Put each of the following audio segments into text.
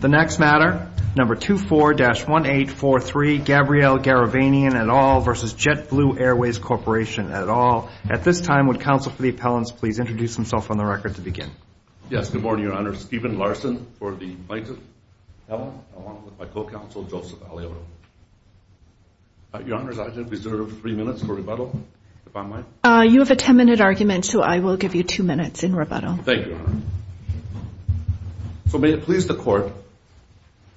The next matter, number 24-1843, Gabrielle Garavanian et al. v. JetBlue Airways Corporation et al. At this time, would counsel for the appellants please introduce themselves on the record to begin. Yes, good morning, Your Honor. Stephen Larson for the plaintiff. Ellen, along with my co-counsel, Joseph Alioto. Your Honor, I reserve three minutes for rebuttal, if I might. You have a ten-minute argument, so I will give you two minutes in rebuttal. Thank you, Your Honor. So may it please the Court.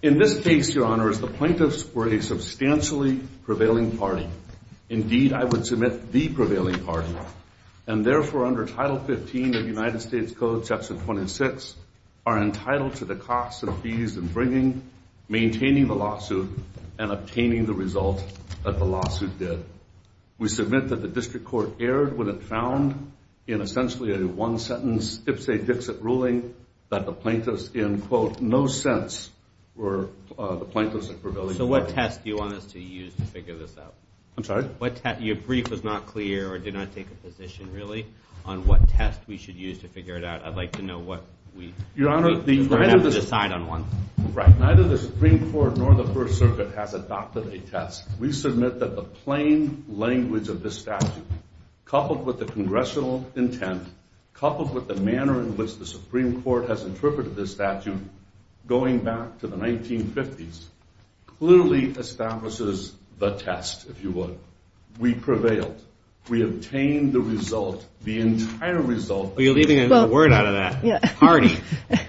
In this case, Your Honor, the plaintiffs were a substantially prevailing party. Indeed, I would submit, the prevailing party. And therefore, under Title 15 of the United States Code, Section 26, are entitled to the costs and fees in bringing, maintaining the lawsuit, and obtaining the result that the lawsuit did. We submit that the District Court erred when it found, in essentially a one-sentence Ipsich-Dixit ruling, that the plaintiffs in, quote, no sense were the plaintiffs in prevailing party. So what test do you want us to use to figure this out? I'm sorry? Your brief was not clear or did not take a position, really, on what test we should use to figure it out. I'd like to know what we decide on. Right. Neither the Supreme Court nor the First Circuit has adopted a test. We submit that the plain language of this statute, coupled with the congressional intent, coupled with the manner in which the Supreme Court has interpreted this statute going back to the 1950s, clearly establishes the test, if you would. We prevailed. We obtained the result, the entire result. You're leaving a word out of that. Party.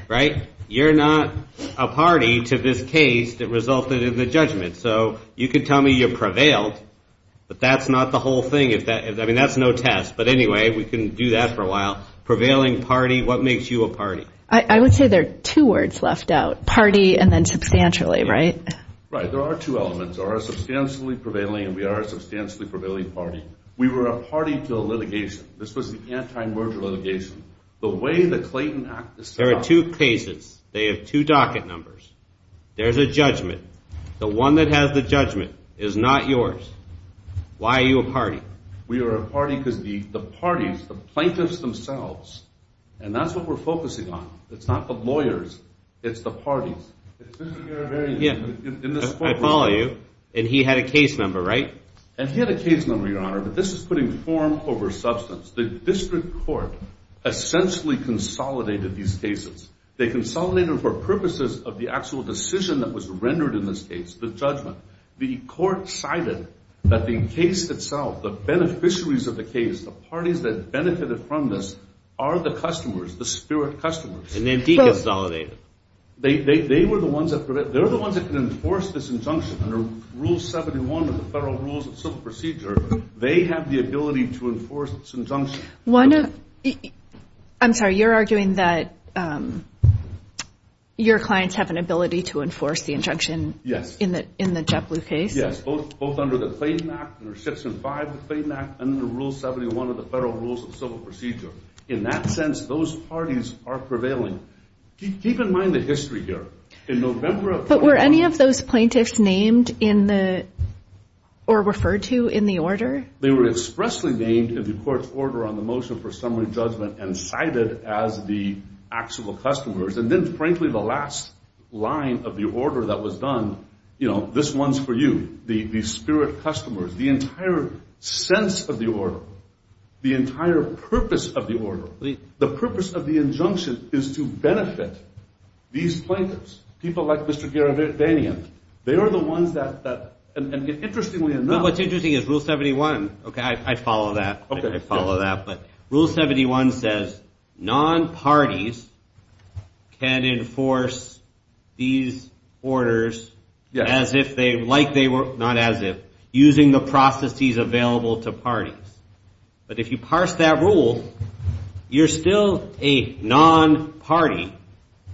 Right? You're not a party to this case that resulted in the judgment. So you could tell me you prevailed, but that's not the whole thing. I mean, that's no test. But anyway, we can do that for a while. Prevailing party. What makes you a party? I would say there are two words left out. Party and then substantially, right? Right. There are two elements. We are a substantially prevailing party. We were a party to the litigation. This was the anti-merger litigation. The way the Clayton Act is set up. There are two cases. They have two docket numbers. There's a judgment. The one that has the judgment is not yours. Why are you a party? We are a party because the parties, the plaintiffs themselves, and that's what we're focusing on. It's not the lawyers. It's the parties. It's Mr. Garibarian. I follow you. And he had a case number, right? And he had a case number, Your Honor. But this is putting form over substance. The district court essentially consolidated these cases. They consolidated for purposes of the actual decision that was rendered in this case, the judgment. The court cited that the case itself, the beneficiaries of the case, the parties that benefited from this are the customers, the spirit customers. And then he consolidated. They were the ones that could enforce this injunction. Under Rule 71 of the Federal Rules of Civil Procedure, they have the ability to enforce this injunction. I'm sorry. You're arguing that your clients have an ability to enforce the injunction in the JetBlue case? Both under the Clayton Act, under Section 5 of the Clayton Act, and under Rule 71 of the Federal Rules of Civil Procedure. In that sense, those parties are prevailing. Keep in mind the history here. But were any of those plaintiffs named or referred to in the order? They were expressly named in the court's order on the motion for summary judgment and cited as the actual customers. And then, frankly, the last line of the order that was done, you know, this one's for you, the spirit customers. The entire sense of the order, the entire purpose of the order, the purpose of the injunction is to benefit these plaintiffs, people like Mr. Garavanian. They are the ones that, interestingly enough— Well, what's interesting is Rule 71. Okay, I follow that. I follow that. But Rule 71 says non-parties can enforce these orders as if they were— not as if, using the processes available to parties. But if you parse that rule, you're still a non-party.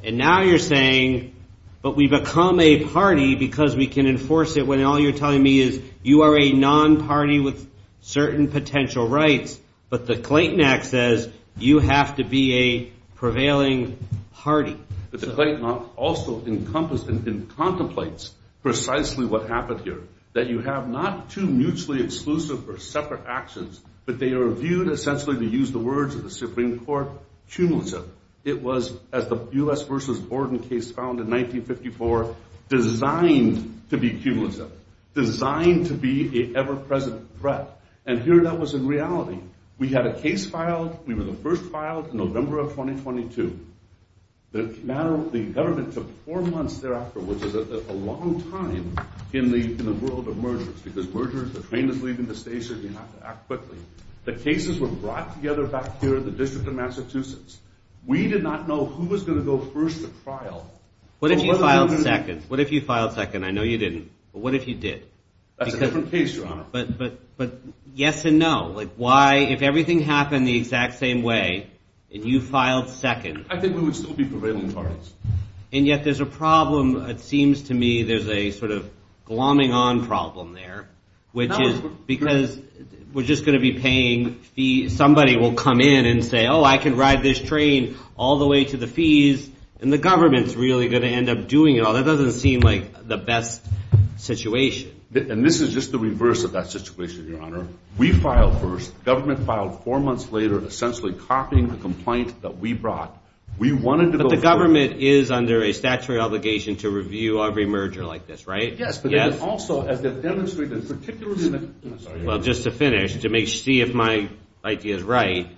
And now you're saying, but we become a party because we can enforce it and all you're telling me is you are a non-party with certain potential rights, but the Clayton Act says you have to be a prevailing party. But the Clayton Act also encompassed and contemplates precisely what happened here, that you have not two mutually exclusive or separate actions, but they are viewed essentially, to use the words of the Supreme Court, cumulative. It was, as the U.S. v. Borden case found in 1954, designed to be cumulative, designed to be an ever-present threat. And here that was in reality. We had a case filed. We were the first filed in November of 2022. The government took four months thereafter, which is a long time in the world of mergers because mergers, the train is leaving the station, you have to act quickly. The cases were brought together back here in the District of Massachusetts. We did not know who was going to go first to trial. What if you filed second? What if you filed second? I know you didn't, but what if you did? That's a different case, Your Honor. But yes and no. Why, if everything happened the exact same way and you filed second? I think we would still be prevailing parties. And yet there's a problem, it seems to me, there's a sort of glomming-on problem there, which is because we're just going to be paying fees. Somebody will come in and say, oh, I can ride this train all the way to the fees, and the government's really going to end up doing it all. That doesn't seem like the best situation. And this is just the reverse of that situation, Your Honor. We filed first. The government filed four months later, essentially copying the complaint that we brought. But the government is under a statutory obligation to review every merger like this, right? Yes. Yes. But then also, as they've demonstrated, particularly in the – Well, just to finish, to see if my idea is right,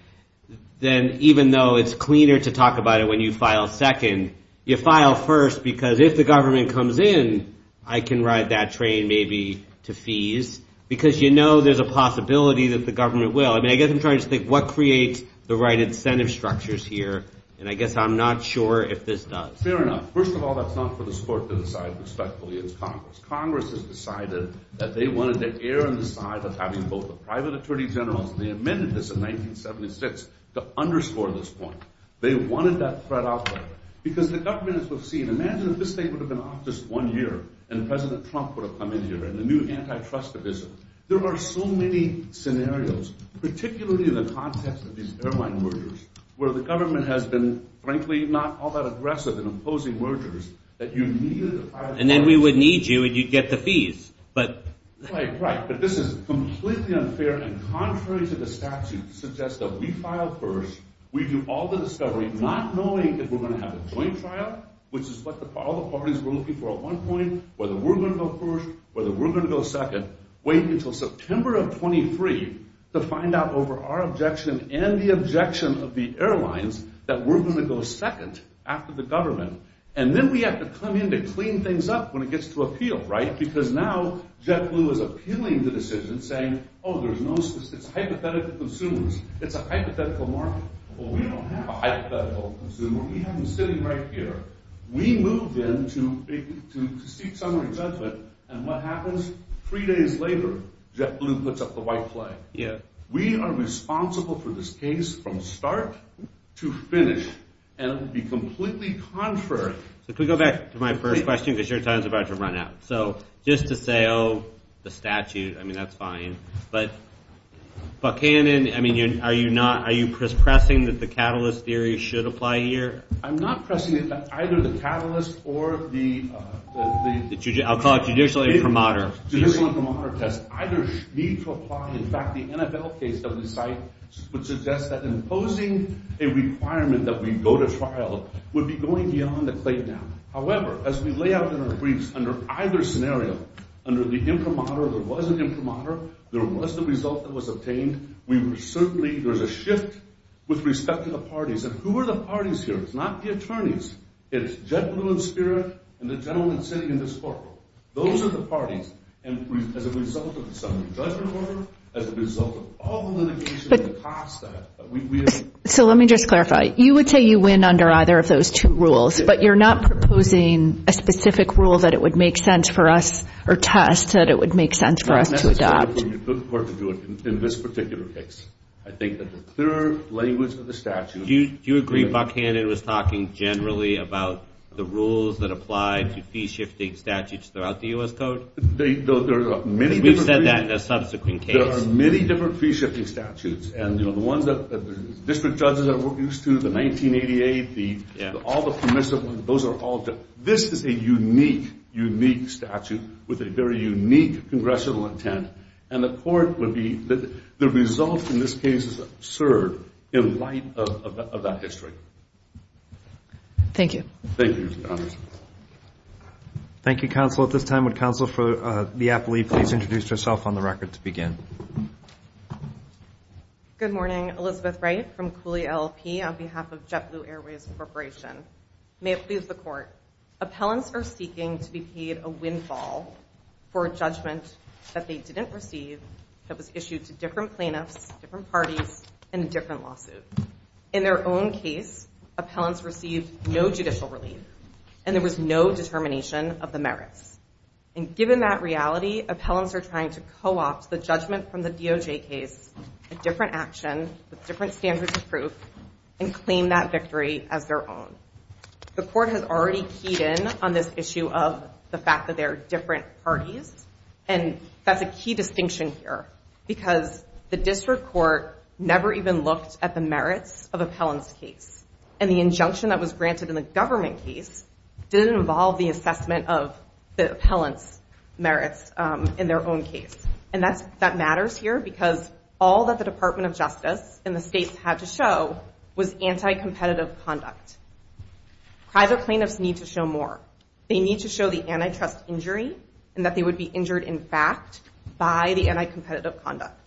then even though it's cleaner to talk about it when you file second, you file first because if the government comes in, I can ride that train maybe to fees, because you know there's a possibility that the government will. I mean, I guess I'm trying to think what creates the right incentive structures here, and I guess I'm not sure if this does. Fair enough. First of all, that's not for the court to decide respectfully. It's Congress. Congress has decided that they wanted to err on the side of having both a private attorney general and they amended this in 1976 to underscore this point. They wanted that threat out there because the government, as we've seen, imagine if this thing would have been off just one year and President Trump would have come in here and the new antitrust division. There are so many scenarios, particularly in the context of these airline mergers, where the government has been, frankly, not all that aggressive in imposing mergers, that you needed a private attorney general. And then we would need you and you'd get the fees. Right, right, but this is completely unfair and contrary to the statute to suggest that we file first, we do all the discovery, not knowing if we're going to have a joint trial, which is what all the parties were looking for at one point, whether we're going to go first, whether we're going to go second, wait until September of 23 to find out over our objection and the objection of the airlines that we're going to go second after the government. And then we have to come in to clean things up when it gets to appeal, right? Because now JetBlue is appealing the decision saying, oh, there's no, it's hypothetical consumers, it's a hypothetical market. Well, we don't have a hypothetical consumer, we have them sitting right here. We move in to seek summary judgment and what happens? Three days later, JetBlue puts up the white flag. We are responsible for this case from start to finish and it would be completely contrary. So can we go back to my first question because your time is about to run out. So just to say, oh, the statute, I mean, that's fine. But Canon, I mean, are you pressing that the catalyst theory should apply here? I'm not pressing it, but either the catalyst or the… I'll call it judicial imprimatur. Judicial imprimatur does either need to apply. In fact, the NFL case that we cite would suggest that imposing a requirement that we go to trial would be going beyond the claim now. However, as we lay out in our briefs under either scenario, under the imprimatur, there was an imprimatur, there was the result that was obtained. We were certainly, there was a shift with respect to the parties. And who are the parties here? It's not the attorneys. It's JetBlue and Spirit and the gentleman sitting in this court. Those are the parties. And as a result of the summary judgment order, as a result of all the litigation that cost that, we… So let me just clarify. You would say you win under either of those two rules, but you're not proposing a specific rule that it would make sense for us or test that it would make sense for us to adopt. No, that's why we put the court to do it in this particular case. I think that the clear language of the statute… Do you agree Buckhannon was talking generally about the rules that apply to fee-shifting statutes throughout the U.S. Code? There are many different… We've said that in a subsequent case. There are many different fee-shifting statutes. And, you know, the ones that district judges are used to, the 1988, all the permissive ones, those are all… This is a unique, unique statute with a very unique congressional intent. And the court would be… The result in this case is absurd in light of that history. Thank you. Thank you, Your Honor. Thank you, counsel. At this time, would counsel for the appellee please introduce herself on the record to begin. Good morning. Elizabeth Wright from Cooley LLP on behalf of JetBlue Airways Corporation. May it please the court, appellants are seeking to be paid a windfall for a judgment that they didn't receive, that was issued to different plaintiffs, different parties, and a different lawsuit. In their own case, appellants received no judicial relief, and there was no determination of the merits. And given that reality, appellants are trying to co-opt the judgment from the DOJ case, a different action with different standards of proof, and claim that victory as their own. The court has already keyed in on this issue of the fact that there are different parties, and that's a key distinction here because the district court never even looked at the merits of appellants' case, and the injunction that was granted in the government case didn't involve the assessment of the appellants' merits in their own case. And that matters here because all that the Department of Justice and the states had to show was anti-competitive conduct. Private plaintiffs need to show more. They need to show the antitrust injury and that they would be injured in fact by the anti-competitive conduct.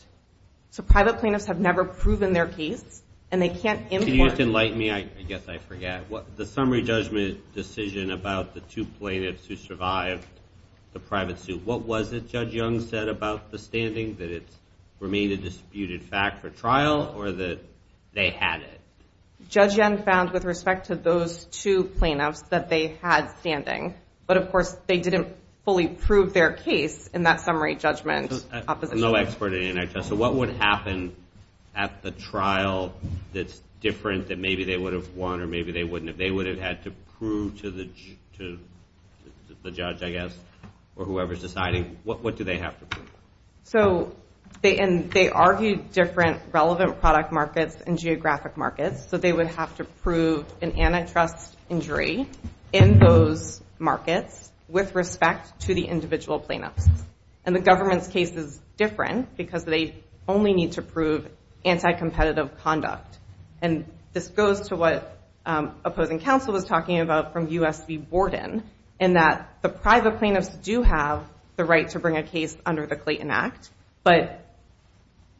So private plaintiffs have never proven their case, and they can't import. Can you just enlighten me? I guess I forget. The summary judgment decision about the two plaintiffs who survived the private suit, what was it Judge Young said about the standing, that it remained a disputed fact for trial, or that they had it? Judge Young found with respect to those two plaintiffs that they had standing, but of course they didn't fully prove their case in that summary judgment. I'm no expert in antitrust, so what would happen at the trial that's different that maybe they would have won or maybe they wouldn't have? They would have had to prove to the judge, I guess, or whoever's deciding. What do they have to prove? They argued different relevant product markets and geographic markets, so they would have to prove an antitrust injury in those markets with respect to the individual plaintiffs. And the government's case is different because they only need to prove anti-competitive conduct. And this goes to what opposing counsel was talking about from U.S. v. Borden, in that the private plaintiffs do have the right to bring a case under the Clayton Act, but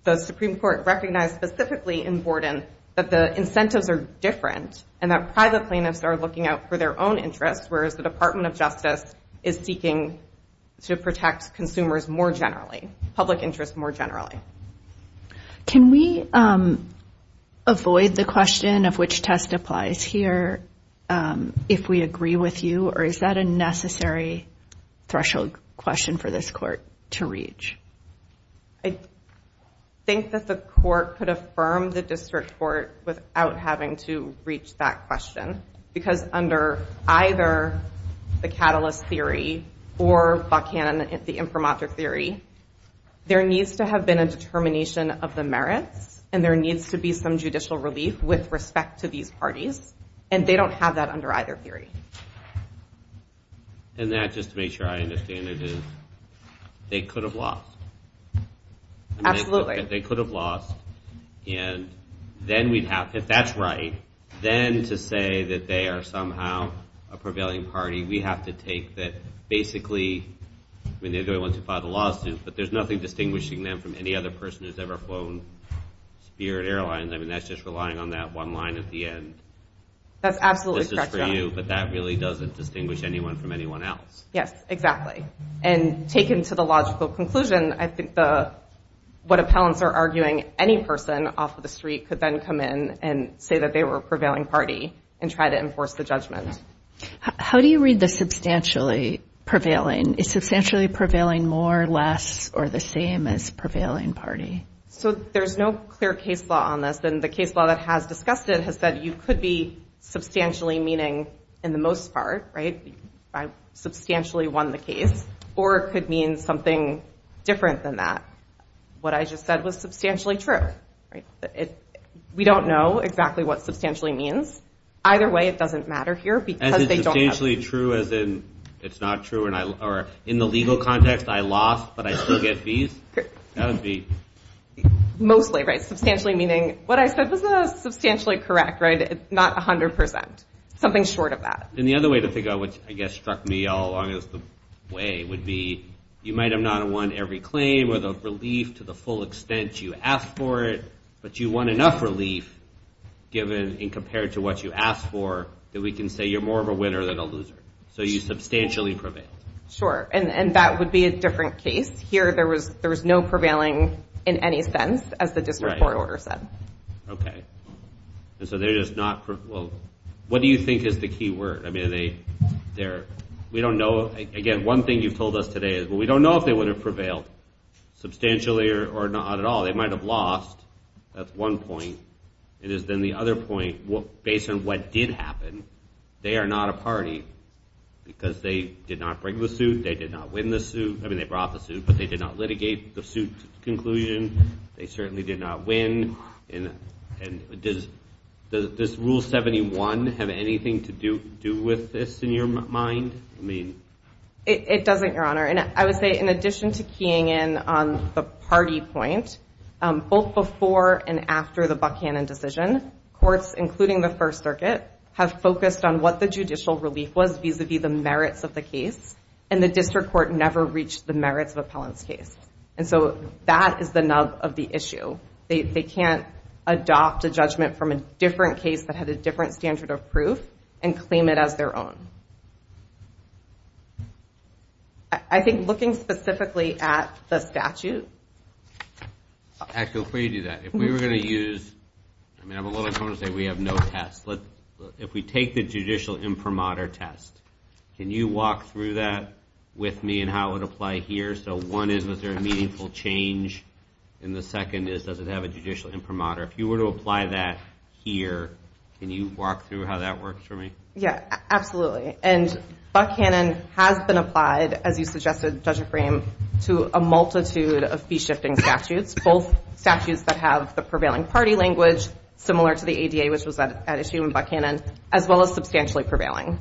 the Supreme Court recognized specifically in Borden that the incentives are different and that private plaintiffs are looking out for their own interests, whereas the Department of Justice is seeking to protect consumers more generally, public interest more generally. Can we avoid the question of which test applies here if we agree with you, or is that a necessary threshold question for this court to reach? I think that the court could affirm the district court without having to reach that question because under either the catalyst theory or Buckhannon, the imprimatur theory, there needs to have been a determination of the merits and there needs to be some judicial relief with respect to these parties, and they don't have that under either theory. And that, just to make sure I understand it, is they could have lost. Absolutely. They could have lost, and then we'd have to, if that's right, then to say that they are somehow a prevailing party, we have to take that basically, I mean, they're the only ones who filed a lawsuit, but there's nothing distinguishing them from any other person who's ever flown Spirit Airlines. I mean, that's just relying on that one line at the end. That's absolutely correct. I mean, this is for you, but that really doesn't distinguish anyone from anyone else. Yes, exactly. And taken to the logical conclusion, I think what appellants are arguing, any person off of the street could then come in and say that they were a prevailing party and try to enforce the judgment. How do you read the substantially prevailing? Is substantially prevailing more, less, or the same as prevailing party? So there's no clear case law on this, and the case law that has discussed it has said you could be substantially meaning, in the most part, right, I substantially won the case, or it could mean something different than that. What I just said was substantially true. We don't know exactly what substantially means. Either way, it doesn't matter here because they don't have it. Substantially true as in it's not true, or in the legal context, I lost but I still get fees? That would be. Mostly, right, substantially meaning what I said was substantially correct, right, not 100%, something short of that. And the other way to think of it, which I guess struck me all along as the way, would be you might not have won every claim with a relief to the full extent you asked for it, but you won enough relief given and compared to what you asked for that we can say you're more of a winner than a loser. So you substantially prevailed. Sure, and that would be a different case. Here there was no prevailing in any sense as the district court order said. Okay. And so they're just not, well, what do you think is the key word? I mean, we don't know. Again, one thing you've told us today is we don't know if they would have prevailed substantially or not at all. They might have lost. That's one point. It is then the other point based on what did happen. They are not a party because they did not bring the suit. They did not win the suit. I mean, they brought the suit, but they did not litigate the suit conclusion. They certainly did not win. And does Rule 71 have anything to do with this in your mind? I mean. It doesn't, Your Honor. And I would say in addition to keying in on the party point, both before and after the Buckhannon decision, courts, including the First Circuit, have focused on what the judicial relief was vis-a-vis the merits of the case, and the district court never reached the merits of Appellant's case. And so that is the nub of the issue. They can't adopt a judgment from a different case that had a different standard of proof and claim it as their own. I think looking specifically at the statute. Actually, before you do that, if we were going to use, I mean, I'm a little torn to say we have no test. If we take the judicial imprimatur test, can you walk through that with me and how it would apply here? So one is, was there a meaningful change? And the second is, does it have a judicial imprimatur? If you were to apply that here, can you walk through how that works for me? Yeah, absolutely. And Buckhannon has been applied, as you suggested, Judge O'Fraim, to a multitude of fee-shifting statutes, both statutes that have the prevailing party language, similar to the ADA, which was at issue in Buckhannon, as well as substantially prevailing.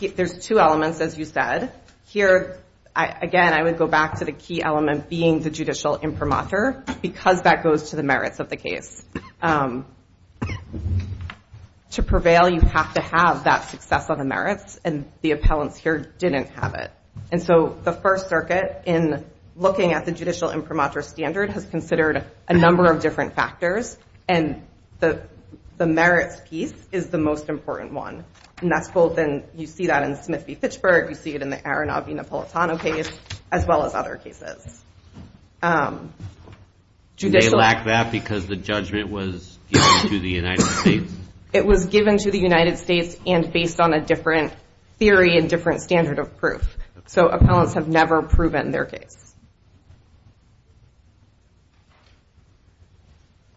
There's two elements, as you said. Here, again, I would go back to the key element being the judicial imprimatur because that goes to the merits of the case. To prevail, you have to have that success on the merits, and the appellants here didn't have it. And so the First Circuit, in looking at the judicial imprimatur standard, has considered a number of different factors, and the merits piece is the most important one. And that's both in, you see that in Smith v. Fitchburg, you see it in the Aronoff v. Napolitano case, as well as other cases. They lack that because the judgment was given to the United States. It was given to the United States and based on a different theory and different standard of proof. So appellants have never proven their case.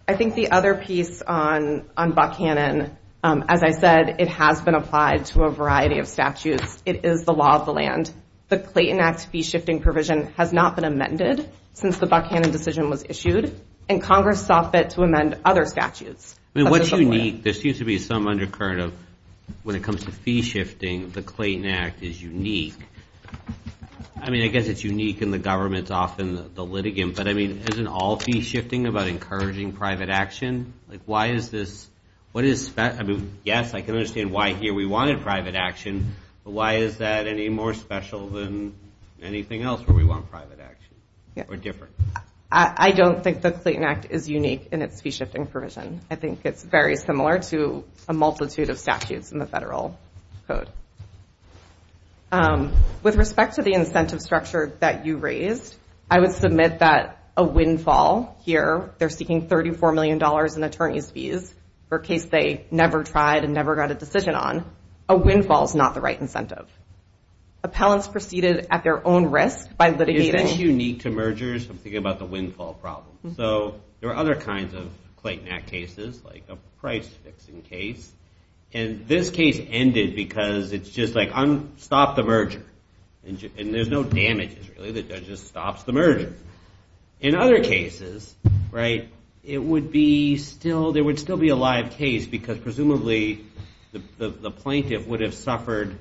I think the other piece on Buckhannon, as I said, it has been applied to a variety of statutes. It is the law of the land. The Clayton Act fee-shifting provision has not been amended since the Buckhannon decision was issued, and Congress saw fit to amend other statutes. I mean, what's unique? There seems to be some undercurrent of when it comes to fee-shifting, the Clayton Act is unique. I mean, I guess it's unique in the government, it's often the litigant, but, I mean, isn't all fee-shifting about encouraging private action? Like, why is this? What is special? I mean, yes, I can understand why here we wanted private action, but why is that any more special than anything else where we want private action or different? I don't think the Clayton Act is unique in its fee-shifting provision. I think it's very similar to a multitude of statutes in the federal code. With respect to the incentive structure that you raised, I would submit that a windfall here, they're seeking $34 million in attorney's fees for a case they never tried and never got a decision on. A windfall is not the right incentive. Appellants proceeded at their own risk by litigating. That's unique to mergers, I'm thinking about the windfall problem. So there are other kinds of Clayton Act cases, like a price-fixing case, and this case ended because it's just like, stop the merger. And there's no damages, really, the judge just stops the merger. In other cases, right, it would be still, there would still be a live case because presumably the plaintiff would have suffered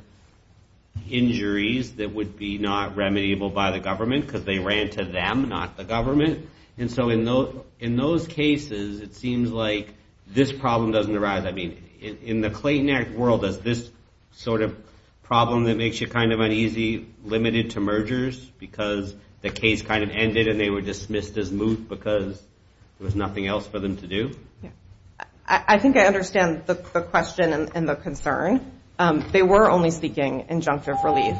injuries that would be not remediable by the government because they ran to them, not the government. And so in those cases, it seems like this problem doesn't arise. I mean, in the Clayton Act world, is this sort of problem that makes you kind of uneasy limited to mergers because the case kind of ended and they were dismissed as moot because there was nothing else for them to do? I think I understand the question and the concern. They were only seeking injunctive relief.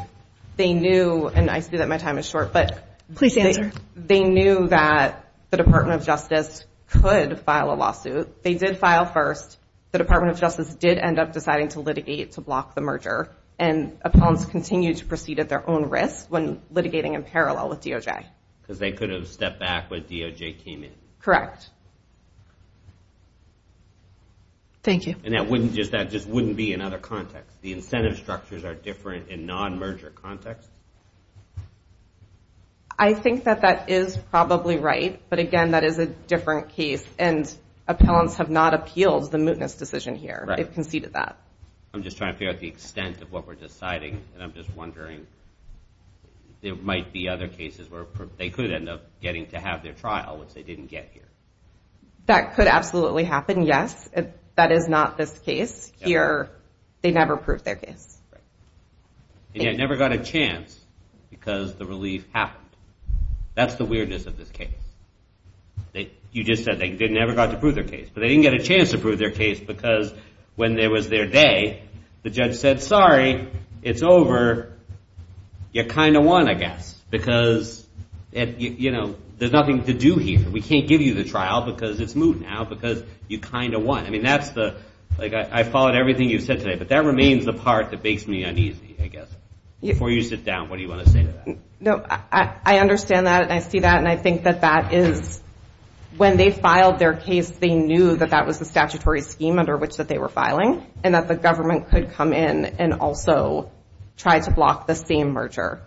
They knew, and I see that my time is short, but they knew that the Department of Justice could file a lawsuit. They did file first. The Department of Justice did end up deciding to litigate to block the merger, and appellants continued to proceed at their own risk when litigating in parallel with DOJ. Because they could have stepped back when DOJ came in. Correct. Thank you. And that just wouldn't be in other contexts? The incentive structures are different in non-merger contexts? I think that that is probably right, but again, that is a different case, and appellants have not appealed the mootness decision here. They've conceded that. I'm just trying to figure out the extent of what we're deciding, and I'm just wondering there might be other cases where they could end up getting to have their trial, which they didn't get here. That could absolutely happen, yes. That is not this case here. They never proved their case. They never got a chance because the relief happened. That's the weirdness of this case. You just said they never got to prove their case, but they didn't get a chance to prove their case because when it was their day, the judge said, sorry, it's over. You kind of won, I guess, because there's nothing to do here. We can't give you the trial because it's moot now because you kind of won. I followed everything you said today, but that remains the part that makes me uneasy, I guess. Before you sit down, what do you want to say to that? I understand that and I see that, and I think that that is when they filed their case, they knew that that was the statutory scheme under which they were filing and that the government could come in and also try to block the same merger.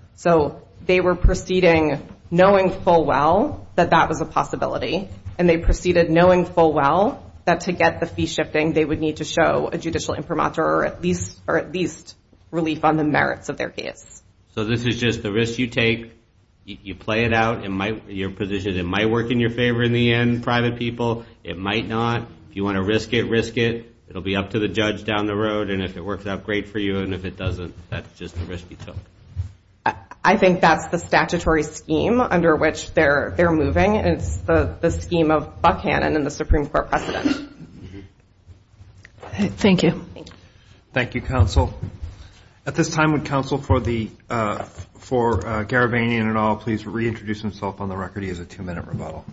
They were proceeding knowing full well that that was a possibility, and they proceeded knowing full well that to get the fee shifting, they would need to show a judicial imprimatur or at least relief on the merits of their case. This is just the risk you take. You play it out in your position. It might work in your favor in the end, private people. It might not. If you want to risk it, risk it. It will be up to the judge down the road, and if it works out great for you, and if it doesn't, that's just the risk you took. I think that's the statutory scheme under which they're moving, and it's the scheme of Buckhannon and the Supreme Court precedent. Thank you. Thank you, Counsel. At this time, would Counsel for Garabanian et al. please reintroduce himself on the record? He has a two-minute rebuttal.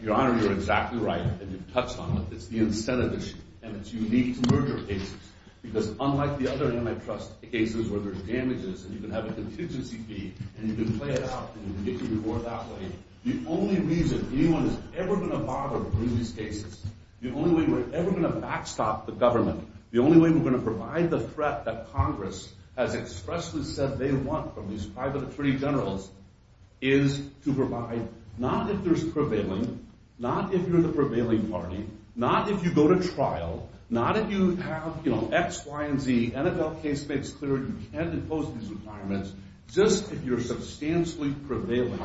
Your Honor, you're exactly right, and you've touched on it. It's the incentive issue, and it's unique to merger cases because unlike the other antitrust cases where there's damages and you can have a contingency fee and you can play it out and you can get your reward that way, the only reason anyone is ever going to bother with these cases, the only way we're ever going to backstop the government, the only way we're going to provide the threat that Congress has expressly said they want from these private attorney generals is to provide, not if there's prevailing, not if you're the prevailing party, not if you go to trial, not if you have, you know, X, Y, and Z, NFL case makes clear you can't impose these requirements, just if you're substantially prevailing.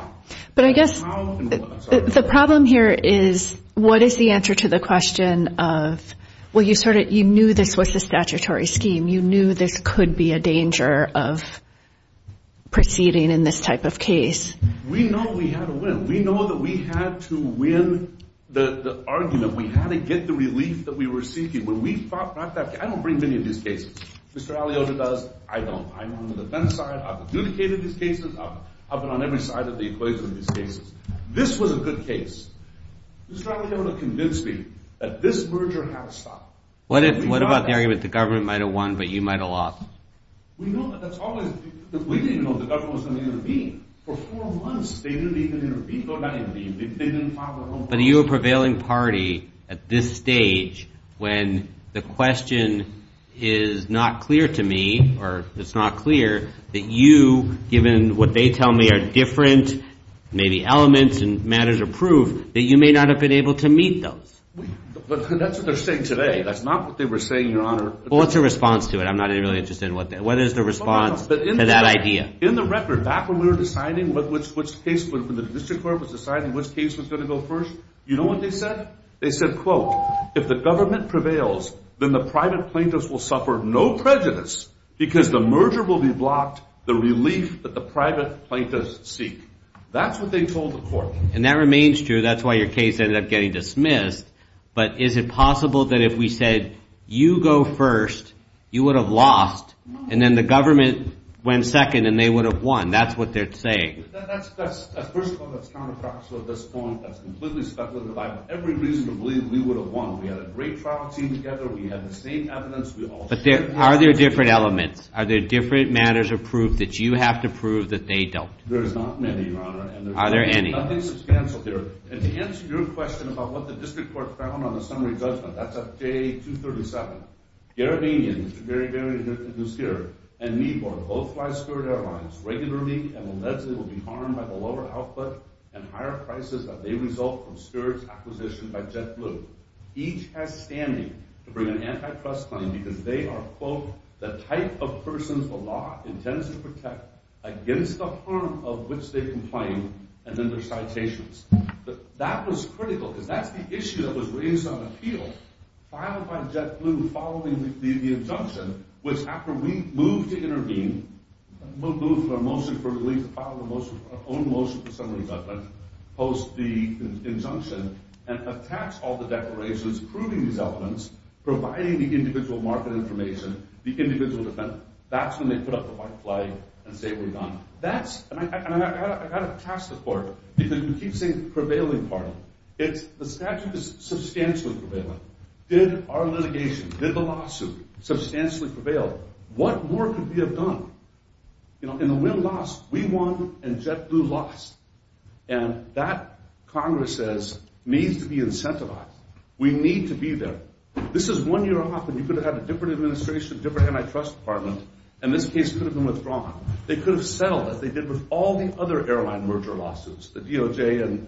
But I guess the problem here is what is the answer to the question of, well, you knew this was the statutory scheme. You knew this could be a danger of proceeding in this type of case. We know we had to win. We had to win the argument. We had to get the relief that we were seeking. I don't bring many of these cases. Mr. Aliota does. I don't. I'm on the defense side. I've adjudicated these cases. I've been on every side of the equation in these cases. This was a good case. Mr. Aliota convinced me that this merger had to stop. What about the argument the government might have won but you might have lost? We know that that's always the case. We didn't know the government was going to intervene. For four months they didn't even intervene. But are you a prevailing party at this stage when the question is not clear to me or it's not clear that you, given what they tell me are different maybe elements and matters of proof, that you may not have been able to meet those? That's what they're saying today. That's not what they were saying, Your Honor. Well, what's your response to it? I'm not really interested in what that is. What is the response to that idea? In the record, back when we were deciding which case, when the district court was deciding which case was going to go first, you know what they said? They said, quote, if the government prevails, then the private plaintiffs will suffer no prejudice because the merger will be blocked, the relief that the private plaintiffs seek. That's what they told the court. And that remains true. That's why your case ended up getting dismissed. But is it possible that if we said you go first, you would have lost and then the government went second and they would have won? That's what they're saying. First of all, that's counterproductive at this point. That's completely speculative. I have every reason to believe we would have won. We had a great trial team together. We had the same evidence. But are there different elements? Are there different matters of proof that you have to prove that they don't? There is not many, Your Honor. Are there any? Nothing substantial there. And to answer your question about what the district court found on the summary judgment, that's up J237. Garabinian, Mr. Garabinian, who's here, and Meadmore, both fly Spirit Airlines regularly and allegedly will be harmed by the lower output and higher prices that they result from Spirit's acquisition by JetBlue. Each has standing to bring an antitrust claim because they are, quote, the type of persons the law intends to protect against the harm of which they complain. And then there's citations. That was critical because that's the issue that was raised on appeal filed by JetBlue following the injunction, which after we moved to intervene, moved for a motion for release, filed our own motion for summary judgment post the injunction, and attached all the declarations proving these elements, providing the individual market information, the individual defendant. That's when they put up the white flag and say we're done. And I've got to pass the court because you keep saying prevailing part. The statute is substantially prevailing. Did our litigation, did the lawsuit, substantially prevail? What more could we have done? In the win-loss, we won and JetBlue lost. And that, Congress says, needs to be incentivized. We need to be there. This is one year off, and you could have had a different administration, different antitrust department, and this case could have been withdrawn. They could have settled it. They did with all the other airline merger lawsuits, the DOJ and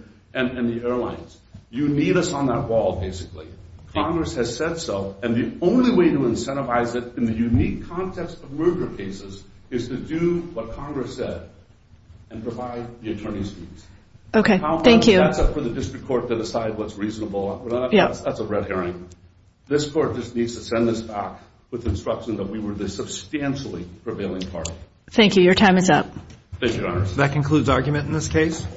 the airlines. You need us on that wall, basically. Congress has said so, and the only way to incentivize it in the unique context of merger cases is to do what Congress said and provide the attorney's fees. Okay, thank you. That's up for the district court to decide what's reasonable. That's a red herring. This court just needs to send this back with instruction that we were the Thank you. Your time is up. Thank you, Your Honor. That concludes argument in this case.